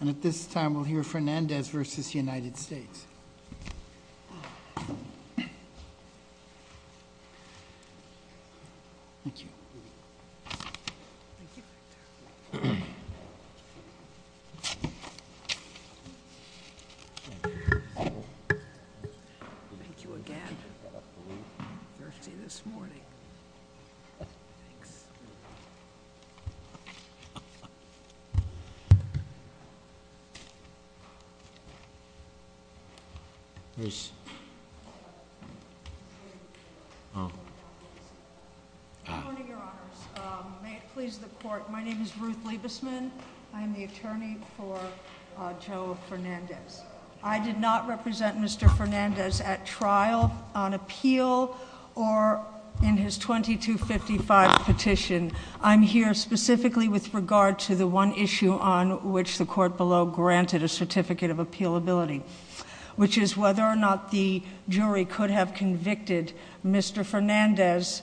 And at this time, we'll hear Fernandez v. United States. Thank you. Thank you again. I'm thirsty this morning. Thanks. Please. There's. Oh. Good morning, your honors. May it please the court. My name is Ruth Liebesman. I am the attorney for Joe Fernandez. I did not represent Mr. Fernandez at trial, on appeal, or in his 2255 petition. I'm here specifically with regard to the one issue on which the court below granted a certificate of appealability. Which is whether or not the jury could have convicted Mr. Fernandez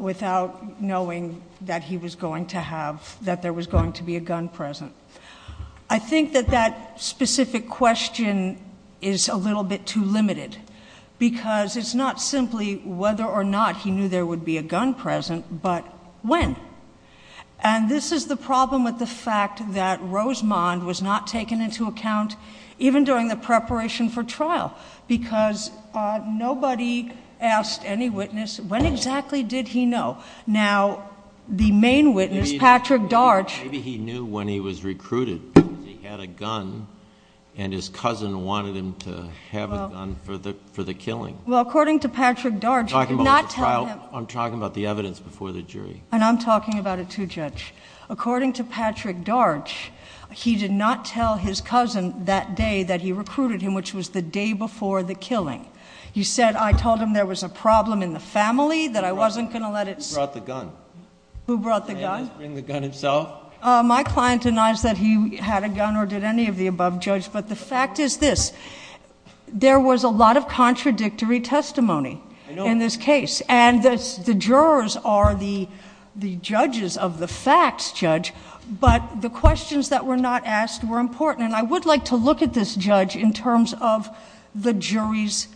without knowing that he was going to have, that there was going to be a gun present. I think that that specific question is a little bit too limited. Because it's not simply whether or not he knew there would be a gun present, but when. And this is the problem with the fact that Rosemond was not taken into account, even during the preparation for trial. Because nobody asked any witness, when exactly did he know? Now, the main witness, Patrick Darch. Maybe he knew when he was recruited. Because he had a gun, and his cousin wanted him to have a gun for the killing. Well, according to Patrick Darch, he did not tell him. I'm talking about the evidence before the jury. And I'm talking about it too, Judge. According to Patrick Darch, he did not tell his cousin that day that he recruited him, which was the day before the killing. He said, I told him there was a problem in the family, that I wasn't going to let it. Who brought the gun? Who brought the gun? May I just bring the gun itself? My client denies that he had a gun or did any of the above, Judge. But the fact is this, there was a lot of contradictory testimony in this case. And the jurors are the judges of the facts, Judge. But the questions that were not asked were important. And I would like to look at this, Judge, in terms of the jury's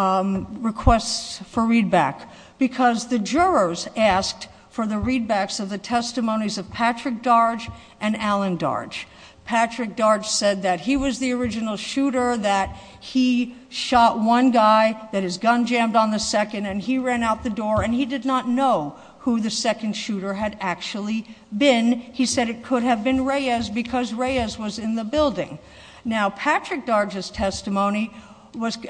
requests for readback. Because the jurors asked for the readbacks of the testimonies of Patrick Darch and Alan Darch. Patrick Darch said that he was the original shooter, that he shot one guy, that his gun jammed on the second, and he ran out the door. And he did not know who the second shooter had actually been. He said it could have been Reyes, because Reyes was in the building. Now, Patrick Darch's testimony,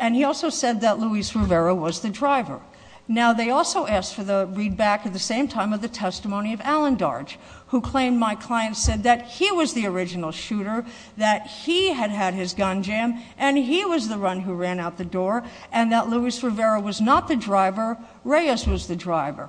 and he also said that Luis Rivera was the driver. Now, they also asked for the readback at the same time of the testimony of Alan Darch, who claimed my client said that he was the original shooter, that he had had his gun jammed, and he was the one who ran out the door, and that Luis Rivera was not the driver, Reyes was the driver.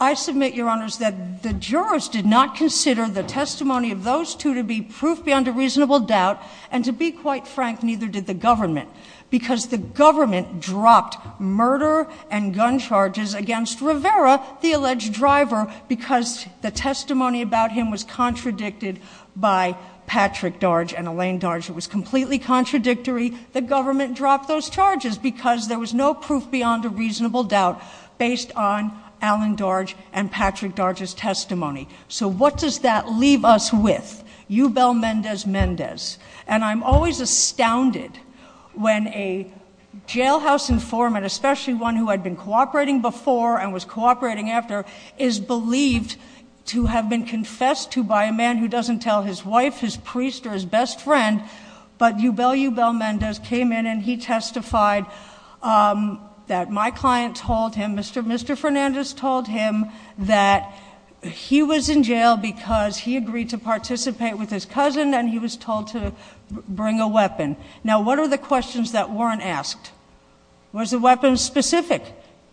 I submit, Your Honors, that the jurors did not consider the testimony of those two to be proof beyond a reasonable doubt. And to be quite frank, neither did the government. Because the government dropped murder and gun charges against Rivera, the alleged driver, because the testimony about him was contradicted by Patrick Darch and Elaine Darch. It was completely contradictory. The government dropped those charges because there was no proof beyond a reasonable doubt based on Alan Darch and Patrick Darch's testimony. So what does that leave us with? Eubel Mendez-Mendez. And I'm always astounded when a jailhouse informant, especially one who had been cooperating before and was cooperating after, is believed to have been confessed to by a man who doesn't tell his wife, his priest, or his best friend. But Eubel Eubel Mendez came in and he testified that my client told him, Mr. Fernandez told him that he was in jail because he agreed to participate with his cousin and he was told to bring a weapon. Now what are the questions that weren't asked? Was the weapon specific?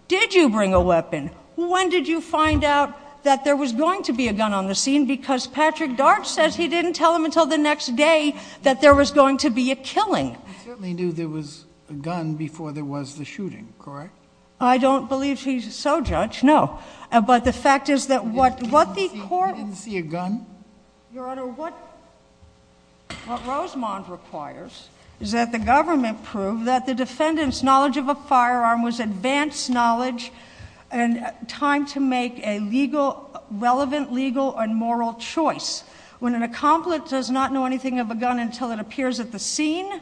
Did you bring a weapon? When did you find out that there was going to be a gun on the scene? Because Patrick Darch says he didn't tell him until the next day that there was going to be a killing. He certainly knew there was a gun before there was the shooting, correct? I don't believe he's so, Judge, no. But the fact is that what the court... You didn't see a gun? Your Honor, what Rosemond requires is that the government prove that the defendant's knowledge of a firearm was advanced knowledge and time to make a relevant legal and moral choice. When an accomplice does not know anything of a gun until it appears at the scene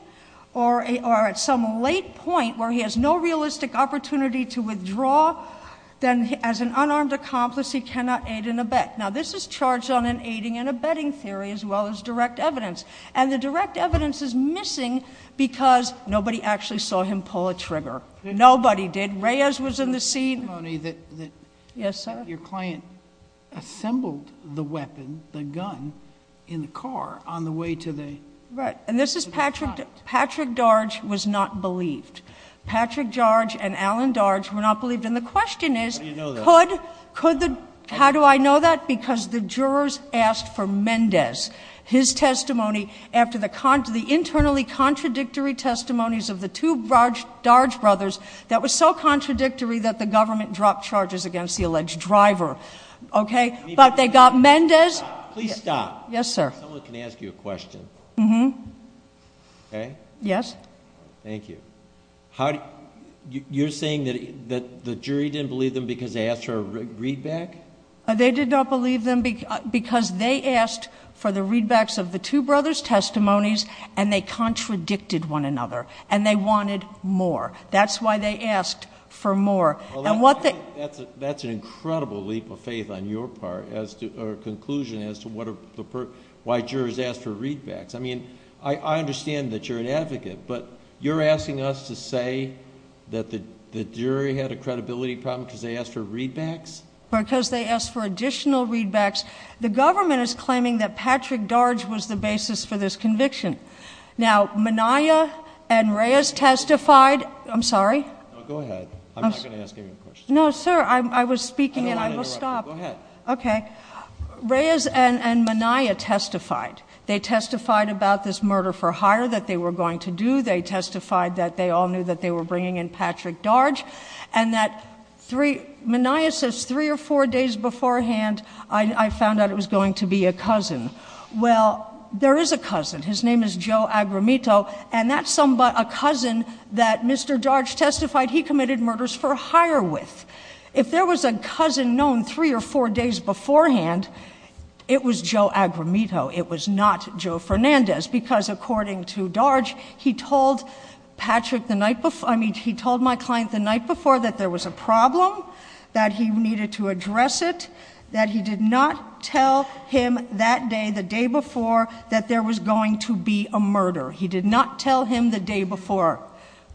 or at some late point where he has no realistic opportunity to withdraw, then as an unarmed accomplice he cannot aid and abet. Now this is charged on an aiding and abetting theory as well as direct evidence. And the direct evidence is missing because nobody actually saw him pull a trigger. Nobody did. Reyes was in the scene. Your client assembled the weapon, the gun, in the car on the way to the... Right, and this is Patrick. Patrick Darge was not believed. Patrick Darge and Alan Darge were not believed. And the question is... How do you know that? Could the... How do I know that? Because the jurors asked for Mendez, his testimony, after the internally contradictory testimonies of the two Darge brothers that was so contradictory that the government dropped charges against the alleged driver, okay? But they got Mendez... Please stop. Yes, sir. If someone can ask you a question. Mm-hmm. Okay? Yes. Thank you. You're saying that the jury didn't believe them because they asked for a readback? They did not believe them because they asked for the readbacks of the two brothers' testimonies and they contradicted one another and they wanted more. That's why they asked for more. That's an incredible leap of faith on your part or conclusion as to why jurors ask for readbacks. I mean, I understand that you're an advocate, but you're asking us to say that the jury had a credibility problem because they asked for readbacks? Because they asked for additional readbacks. The government is claiming that Patrick Darge was the basis for this conviction. Now, Minaya and Reyes testified. I'm sorry? No, go ahead. I'm not going to ask any more questions. No, sir. I was speaking and I will stop. Go ahead. Okay. Reyes and Minaya testified. They testified about this murder for hire that they were going to do. They testified that they all knew that they were bringing in Patrick Darge. And Minaya says three or four days beforehand, I found out it was going to be a cousin. Well, there is a cousin. His name is Joe Agramito, and that's a cousin that Mr. Darge testified he committed murders for hire with. If there was a cousin known three or four days beforehand, it was Joe Agramito. It was not Joe Fernandez because, according to Darge, he told Patrick the night before, I mean, he told my client the night before that there was a problem, that he needed to address it, that he did not tell him that day, the day before, that there was going to be a murder. He did not tell him the day before.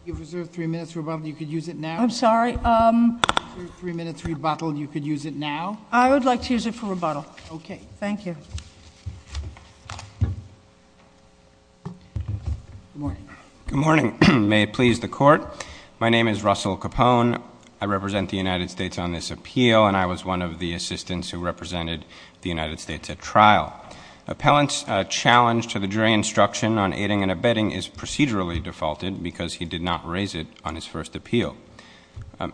You have reserved three minutes for rebuttal. You could use it now. I'm sorry? You have reserved three minutes for rebuttal. You could use it now. I would like to use it for rebuttal. Okay. Thank you. Good morning. Good morning. May it please the Court. My name is Russell Capone. I represent the United States on this appeal, and I was one of the assistants who represented the United States at trial. Appellant's challenge to the jury instruction on aiding and abetting is procedurally defaulted because he did not raise it on his first appeal.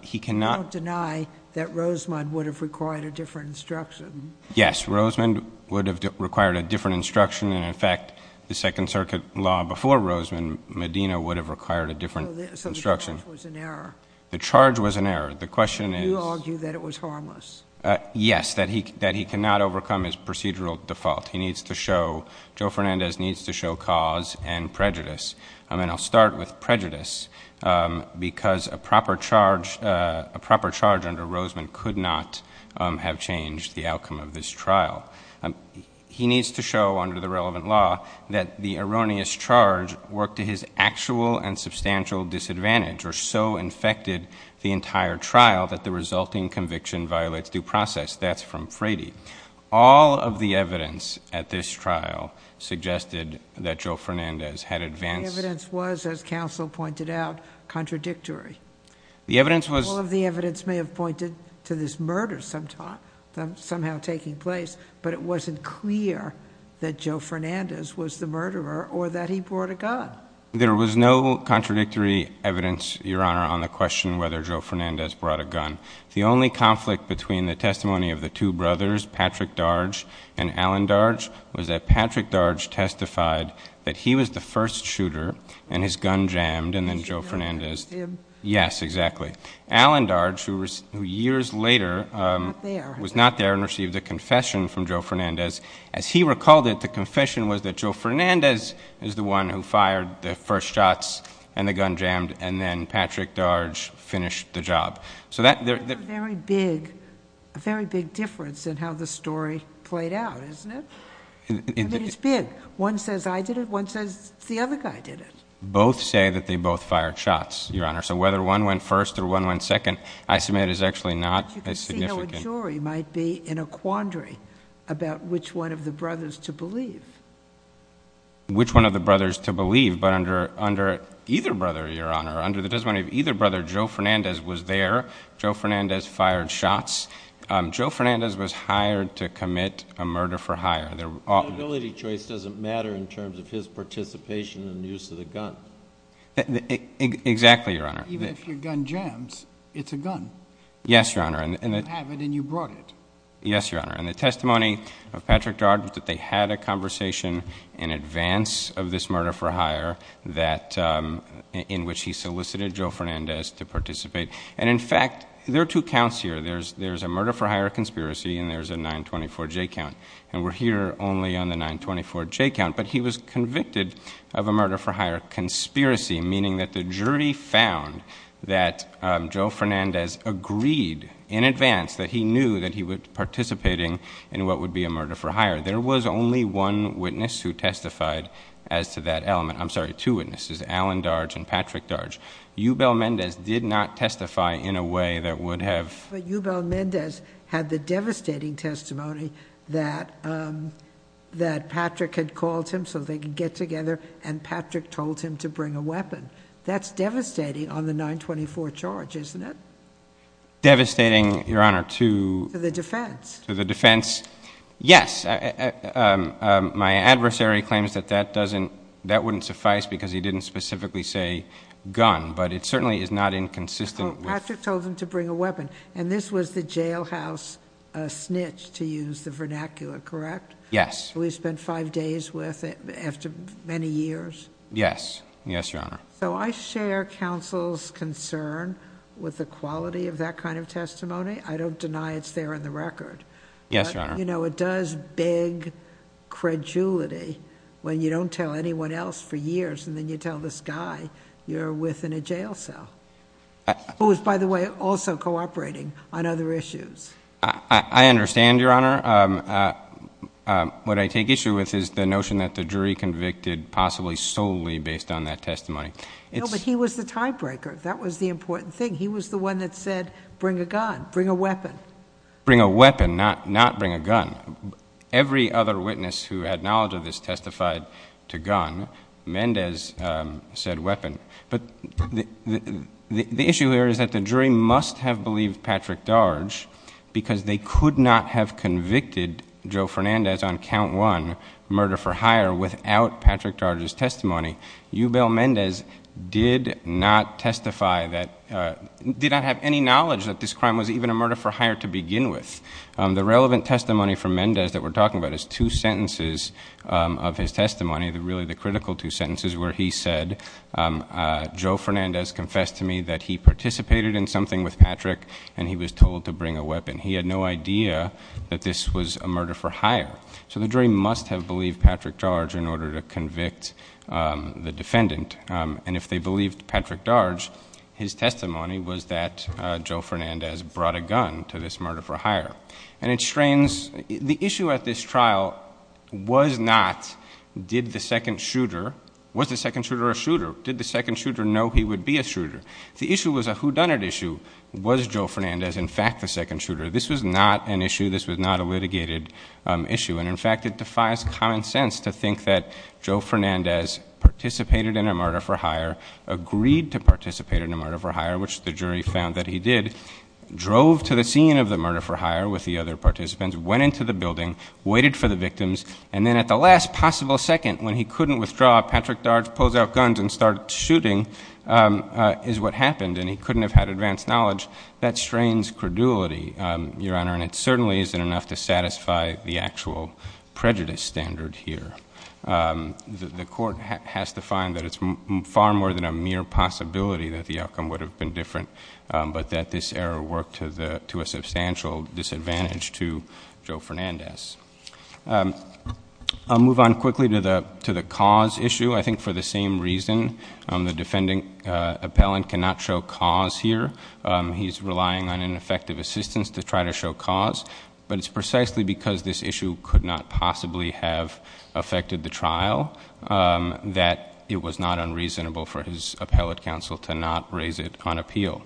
He cannot deny that Rosemond would have required a different instruction. Yes. Rosemond would have required a different instruction, and, in fact, the Second Circuit law before Rosemond Medina would have required a different instruction. So the charge was an error. The charge was an error. The question is — You argue that it was harmless. Yes, that he cannot overcome his procedural default. He needs to show — Joe Fernandez needs to show cause and prejudice. And I'll start with prejudice because a proper charge under Rosemond could not have changed the outcome of this trial. He needs to show, under the relevant law, that the erroneous charge worked to his actual and substantial disadvantage or so infected the entire trial that the resulting conviction violates due process. That's from Frady. All of the evidence at this trial suggested that Joe Fernandez had advanced — The evidence was, as counsel pointed out, contradictory. The evidence was — But it wasn't clear that Joe Fernandez was the murderer or that he brought a gun. There was no contradictory evidence, Your Honor, on the question whether Joe Fernandez brought a gun. The only conflict between the testimony of the two brothers, Patrick Darge and Alan Darge, was that Patrick Darge testified that he was the first shooter, and his gun jammed, and then Joe Fernandez — Yes, exactly. Alan Darge, who years later — Was not there. Was not there and received a confession from Joe Fernandez. As he recalled it, the confession was that Joe Fernandez is the one who fired the first shots and the gun jammed, and then Patrick Darge finished the job. So that — That's a very big difference in how the story played out, isn't it? I mean, it's big. One says I did it. One says the other guy did it. Both say that they both fired shots, Your Honor. So whether one went first or one went second, I submit is actually not as significant. But you can see how a jury might be in a quandary about which one of the brothers to believe. Which one of the brothers to believe, but under either brother, Your Honor, under the testimony of either brother, Joe Fernandez was there. Joe Fernandez fired shots. Joe Fernandez was hired to commit a murder for hire. The liability choice doesn't matter in terms of his participation in the use of the gun. Exactly, Your Honor. Even if your gun jams, it's a gun. Yes, Your Honor. You have it and you brought it. Yes, Your Honor. And the testimony of Patrick Darge was that they had a conversation in advance of this murder for hire in which he solicited Joe Fernandez to participate. And, in fact, there are two counts here. There's a murder for hire conspiracy and there's a 924J count. And we're here only on the 924J count. But he was convicted of a murder for hire conspiracy, meaning that the jury found that Joe Fernandez agreed in advance that he knew that he was participating in what would be a murder for hire. There was only one witness who testified as to that element. I'm sorry, two witnesses, Alan Darge and Patrick Darge. Eubel Mendez did not testify in a way that would have... And Patrick told him to bring a weapon. That's devastating on the 924 charge, isn't it? Devastating, Your Honor, to... To the defense. To the defense. Yes. My adversary claims that that doesn't... that wouldn't suffice because he didn't specifically say gun. But it certainly is not inconsistent with... Well, Patrick told him to bring a weapon. And this was the jailhouse snitch, to use the vernacular, correct? Yes. Who he spent five days with after many years. Yes. Yes, Your Honor. So I share counsel's concern with the quality of that kind of testimony. I don't deny it's there in the record. Yes, Your Honor. But, you know, it does beg credulity when you don't tell anyone else for years and then you tell this guy you're with in a jail cell. Who is, by the way, also cooperating on other issues. I understand, Your Honor. What I take issue with is the notion that the jury convicted possibly solely based on that testimony. No, but he was the tiebreaker. That was the important thing. He was the one that said bring a gun, bring a weapon. Bring a weapon, not bring a gun. Every other witness who had knowledge of this testified to gun. Mendez said weapon. But the issue here is that the jury must have believed Patrick Darge because they could not have convicted Joe Fernandez on count one, murder for hire, without Patrick Darge's testimony. Eubel Mendez did not testify that, did not have any knowledge that this crime was even a murder for hire to begin with. The relevant testimony from Mendez that we're talking about is two sentences of his testimony, really the critical two sentences where he said, Joe Fernandez confessed to me that he participated in something with Patrick and he was told to bring a weapon. He had no idea that this was a murder for hire. So the jury must have believed Patrick Darge in order to convict the defendant. And if they believed Patrick Darge, his testimony was that Joe Fernandez brought a gun to this murder for hire. And it strains, the issue at this trial was not did the second shooter, was the second shooter a shooter? Did the second shooter know he would be a shooter? The issue was a whodunit issue. Was Joe Fernandez in fact the second shooter? This was not an issue. This was not a litigated issue. And in fact, it defies common sense to think that Joe Fernandez participated in a murder for hire, agreed to participate in a murder for hire, which the jury found that he did, drove to the scene of the murder for hire with the other participants, went into the building, waited for the victims, and then at the last possible second when he couldn't withdraw, Patrick Darge pulls out guns and starts shooting is what happened. And he couldn't have had advanced knowledge. That strains credulity, Your Honor, and it certainly isn't enough to satisfy the actual prejudice standard here. The court has to find that it's far more than a mere possibility that the outcome would have been different, but that this error worked to a substantial disadvantage to Joe Fernandez. I'll move on quickly to the cause issue. I think for the same reason the defending appellant cannot show cause here. He's relying on ineffective assistance to try to show cause, but it's precisely because this issue could not possibly have affected the trial that it was not unreasonable for his appellate counsel to not raise it on appeal.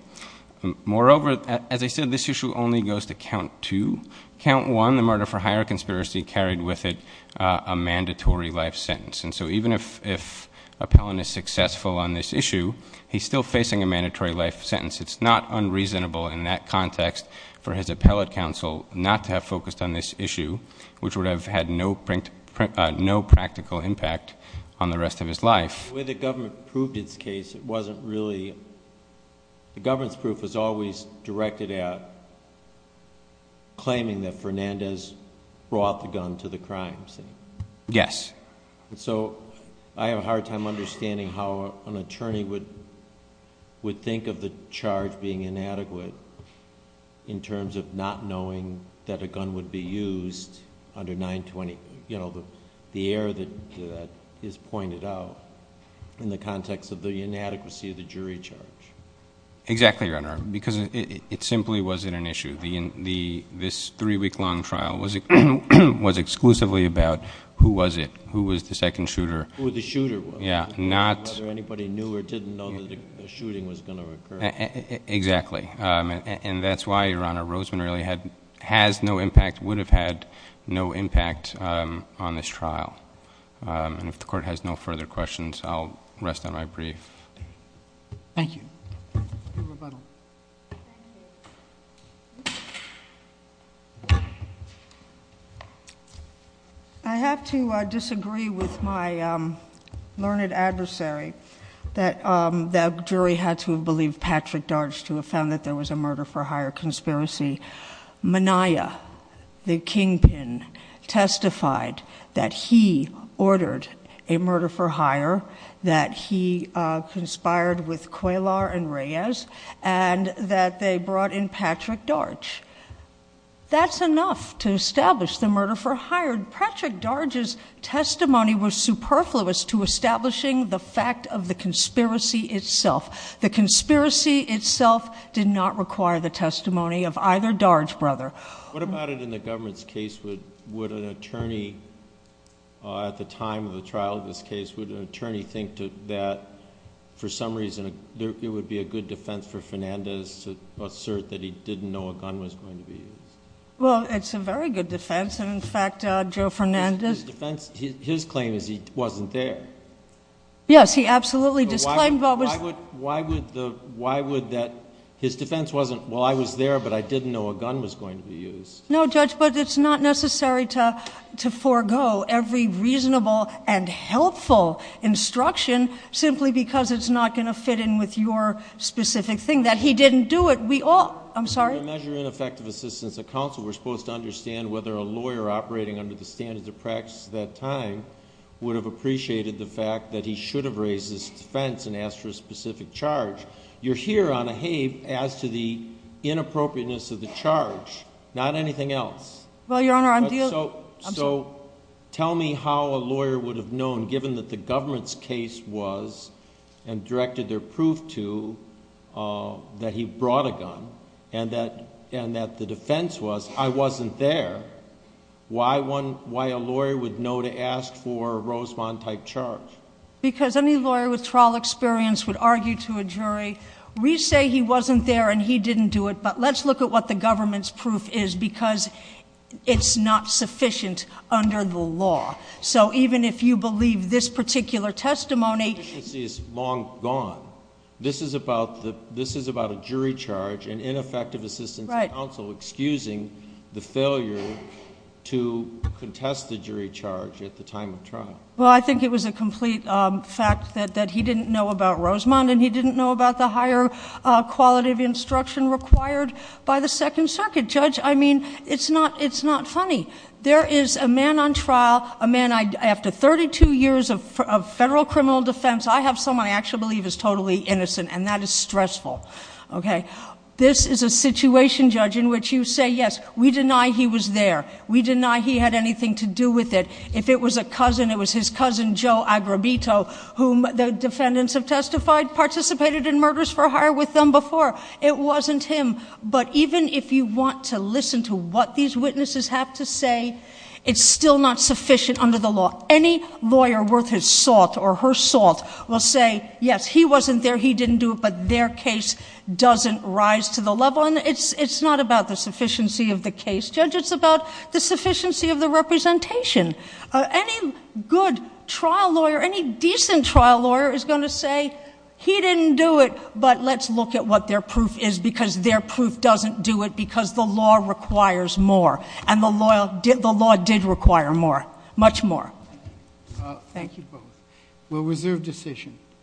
Moreover, as I said, this issue only goes to count two. Count one, the murder for hire conspiracy carried with it a mandatory life sentence. And so even if appellant is successful on this issue, he's still facing a mandatory life sentence. It's not unreasonable in that context for his appellate counsel not to have focused on this issue, which would have had no practical impact on the rest of his life. The way the government proved its case, it wasn't really... The government's proof was always directed at claiming that Fernandez brought the gun to the crime scene. Yes. So I have a hard time understanding how an attorney would think of the charge being inadequate in terms of not knowing that a gun would be used under 920. You know, the error that is pointed out in the context of the inadequacy of the jury charge. Exactly, Your Honor, because it simply wasn't an issue. This three-week-long trial was exclusively about who was it, who was the second shooter. Who the shooter was. Yeah, not... Whether anybody knew or didn't know that a shooting was going to occur. Exactly. And that's why, Your Honor, Roseman really has no impact, would have had no impact on this trial. And if the Court has no further questions, I'll rest on my brief. Thank you. Rebuttal. Thank you. I have to disagree with my learned adversary that the jury had to have believed Patrick Darge to have found that there was a murder-for-hire conspiracy. Minaya, the kingpin, testified that he ordered a murder-for-hire, that he conspired with Qualar and Reyes, and that they brought in Patrick Darge. That's enough to establish the murder-for-hire. Patrick Darge's testimony was superfluous to establishing the fact of the conspiracy itself. The conspiracy itself did not require the testimony of either Darge brother. What about it in the government's case? Would an attorney, at the time of the trial of this case, would an attorney think that, for some reason, it would be a good defense for Fernandez to assert that he didn't know a gun was going to be used? Well, it's a very good defense. And, in fact, Joe Fernandez... His defense... his claim is he wasn't there. Yes, he absolutely disclaimed... Why would the... why would that... his defense wasn't, well, I was there, but I didn't know a gun was going to be used. No, Judge, but it's not necessary to forego every reasonable and helpful instruction, simply because it's not going to fit in with your specific thing, that he didn't do it. We all... I'm sorry? In order to measure ineffective assistance at counsel, we're supposed to understand whether a lawyer operating under the standards of practice at that time would have appreciated the fact that he should have raised his defense and asked for a specific charge. You're here on a heave as to the inappropriateness of the charge, not anything else. Well, Your Honor, I'm... And that the defense was, I wasn't there. Why a lawyer would know to ask for a Rosemont-type charge? Because any lawyer with trial experience would argue to a jury, we say he wasn't there and he didn't do it, but let's look at what the government's proof is, because it's not sufficient under the law. So, even if you believe this particular testimony... This is about a jury charge and ineffective assistance at counsel excusing the failure to contest the jury charge at the time of trial. Well, I think it was a complete fact that he didn't know about Rosemont and he didn't know about the higher quality of instruction required by the Second Circuit. Judge, I mean, it's not funny. There is a man on trial, a man, after 32 years of federal criminal defense, I have someone I actually believe is totally innocent and that is stressful. Okay? This is a situation, Judge, in which you say, yes, we deny he was there. We deny he had anything to do with it. If it was a cousin, it was his cousin, Joe Agrabito, whom the defendants have testified participated in murders for hire with them before. It wasn't him. But, even if you want to listen to what these witnesses have to say, it's still not sufficient under the law. Any lawyer worth his salt or her salt will say, yes, he wasn't there, he didn't do it, but their case doesn't rise to the level. And, it's not about the sufficiency of the case, Judge. It's about the sufficiency of the representation. Any good trial lawyer, any decent trial lawyer is going to say, he didn't do it, but let's look at what their proof is because their proof doesn't do it because the law requires more. And, the law did require more. Much more. Thank you both. We'll reserve decision.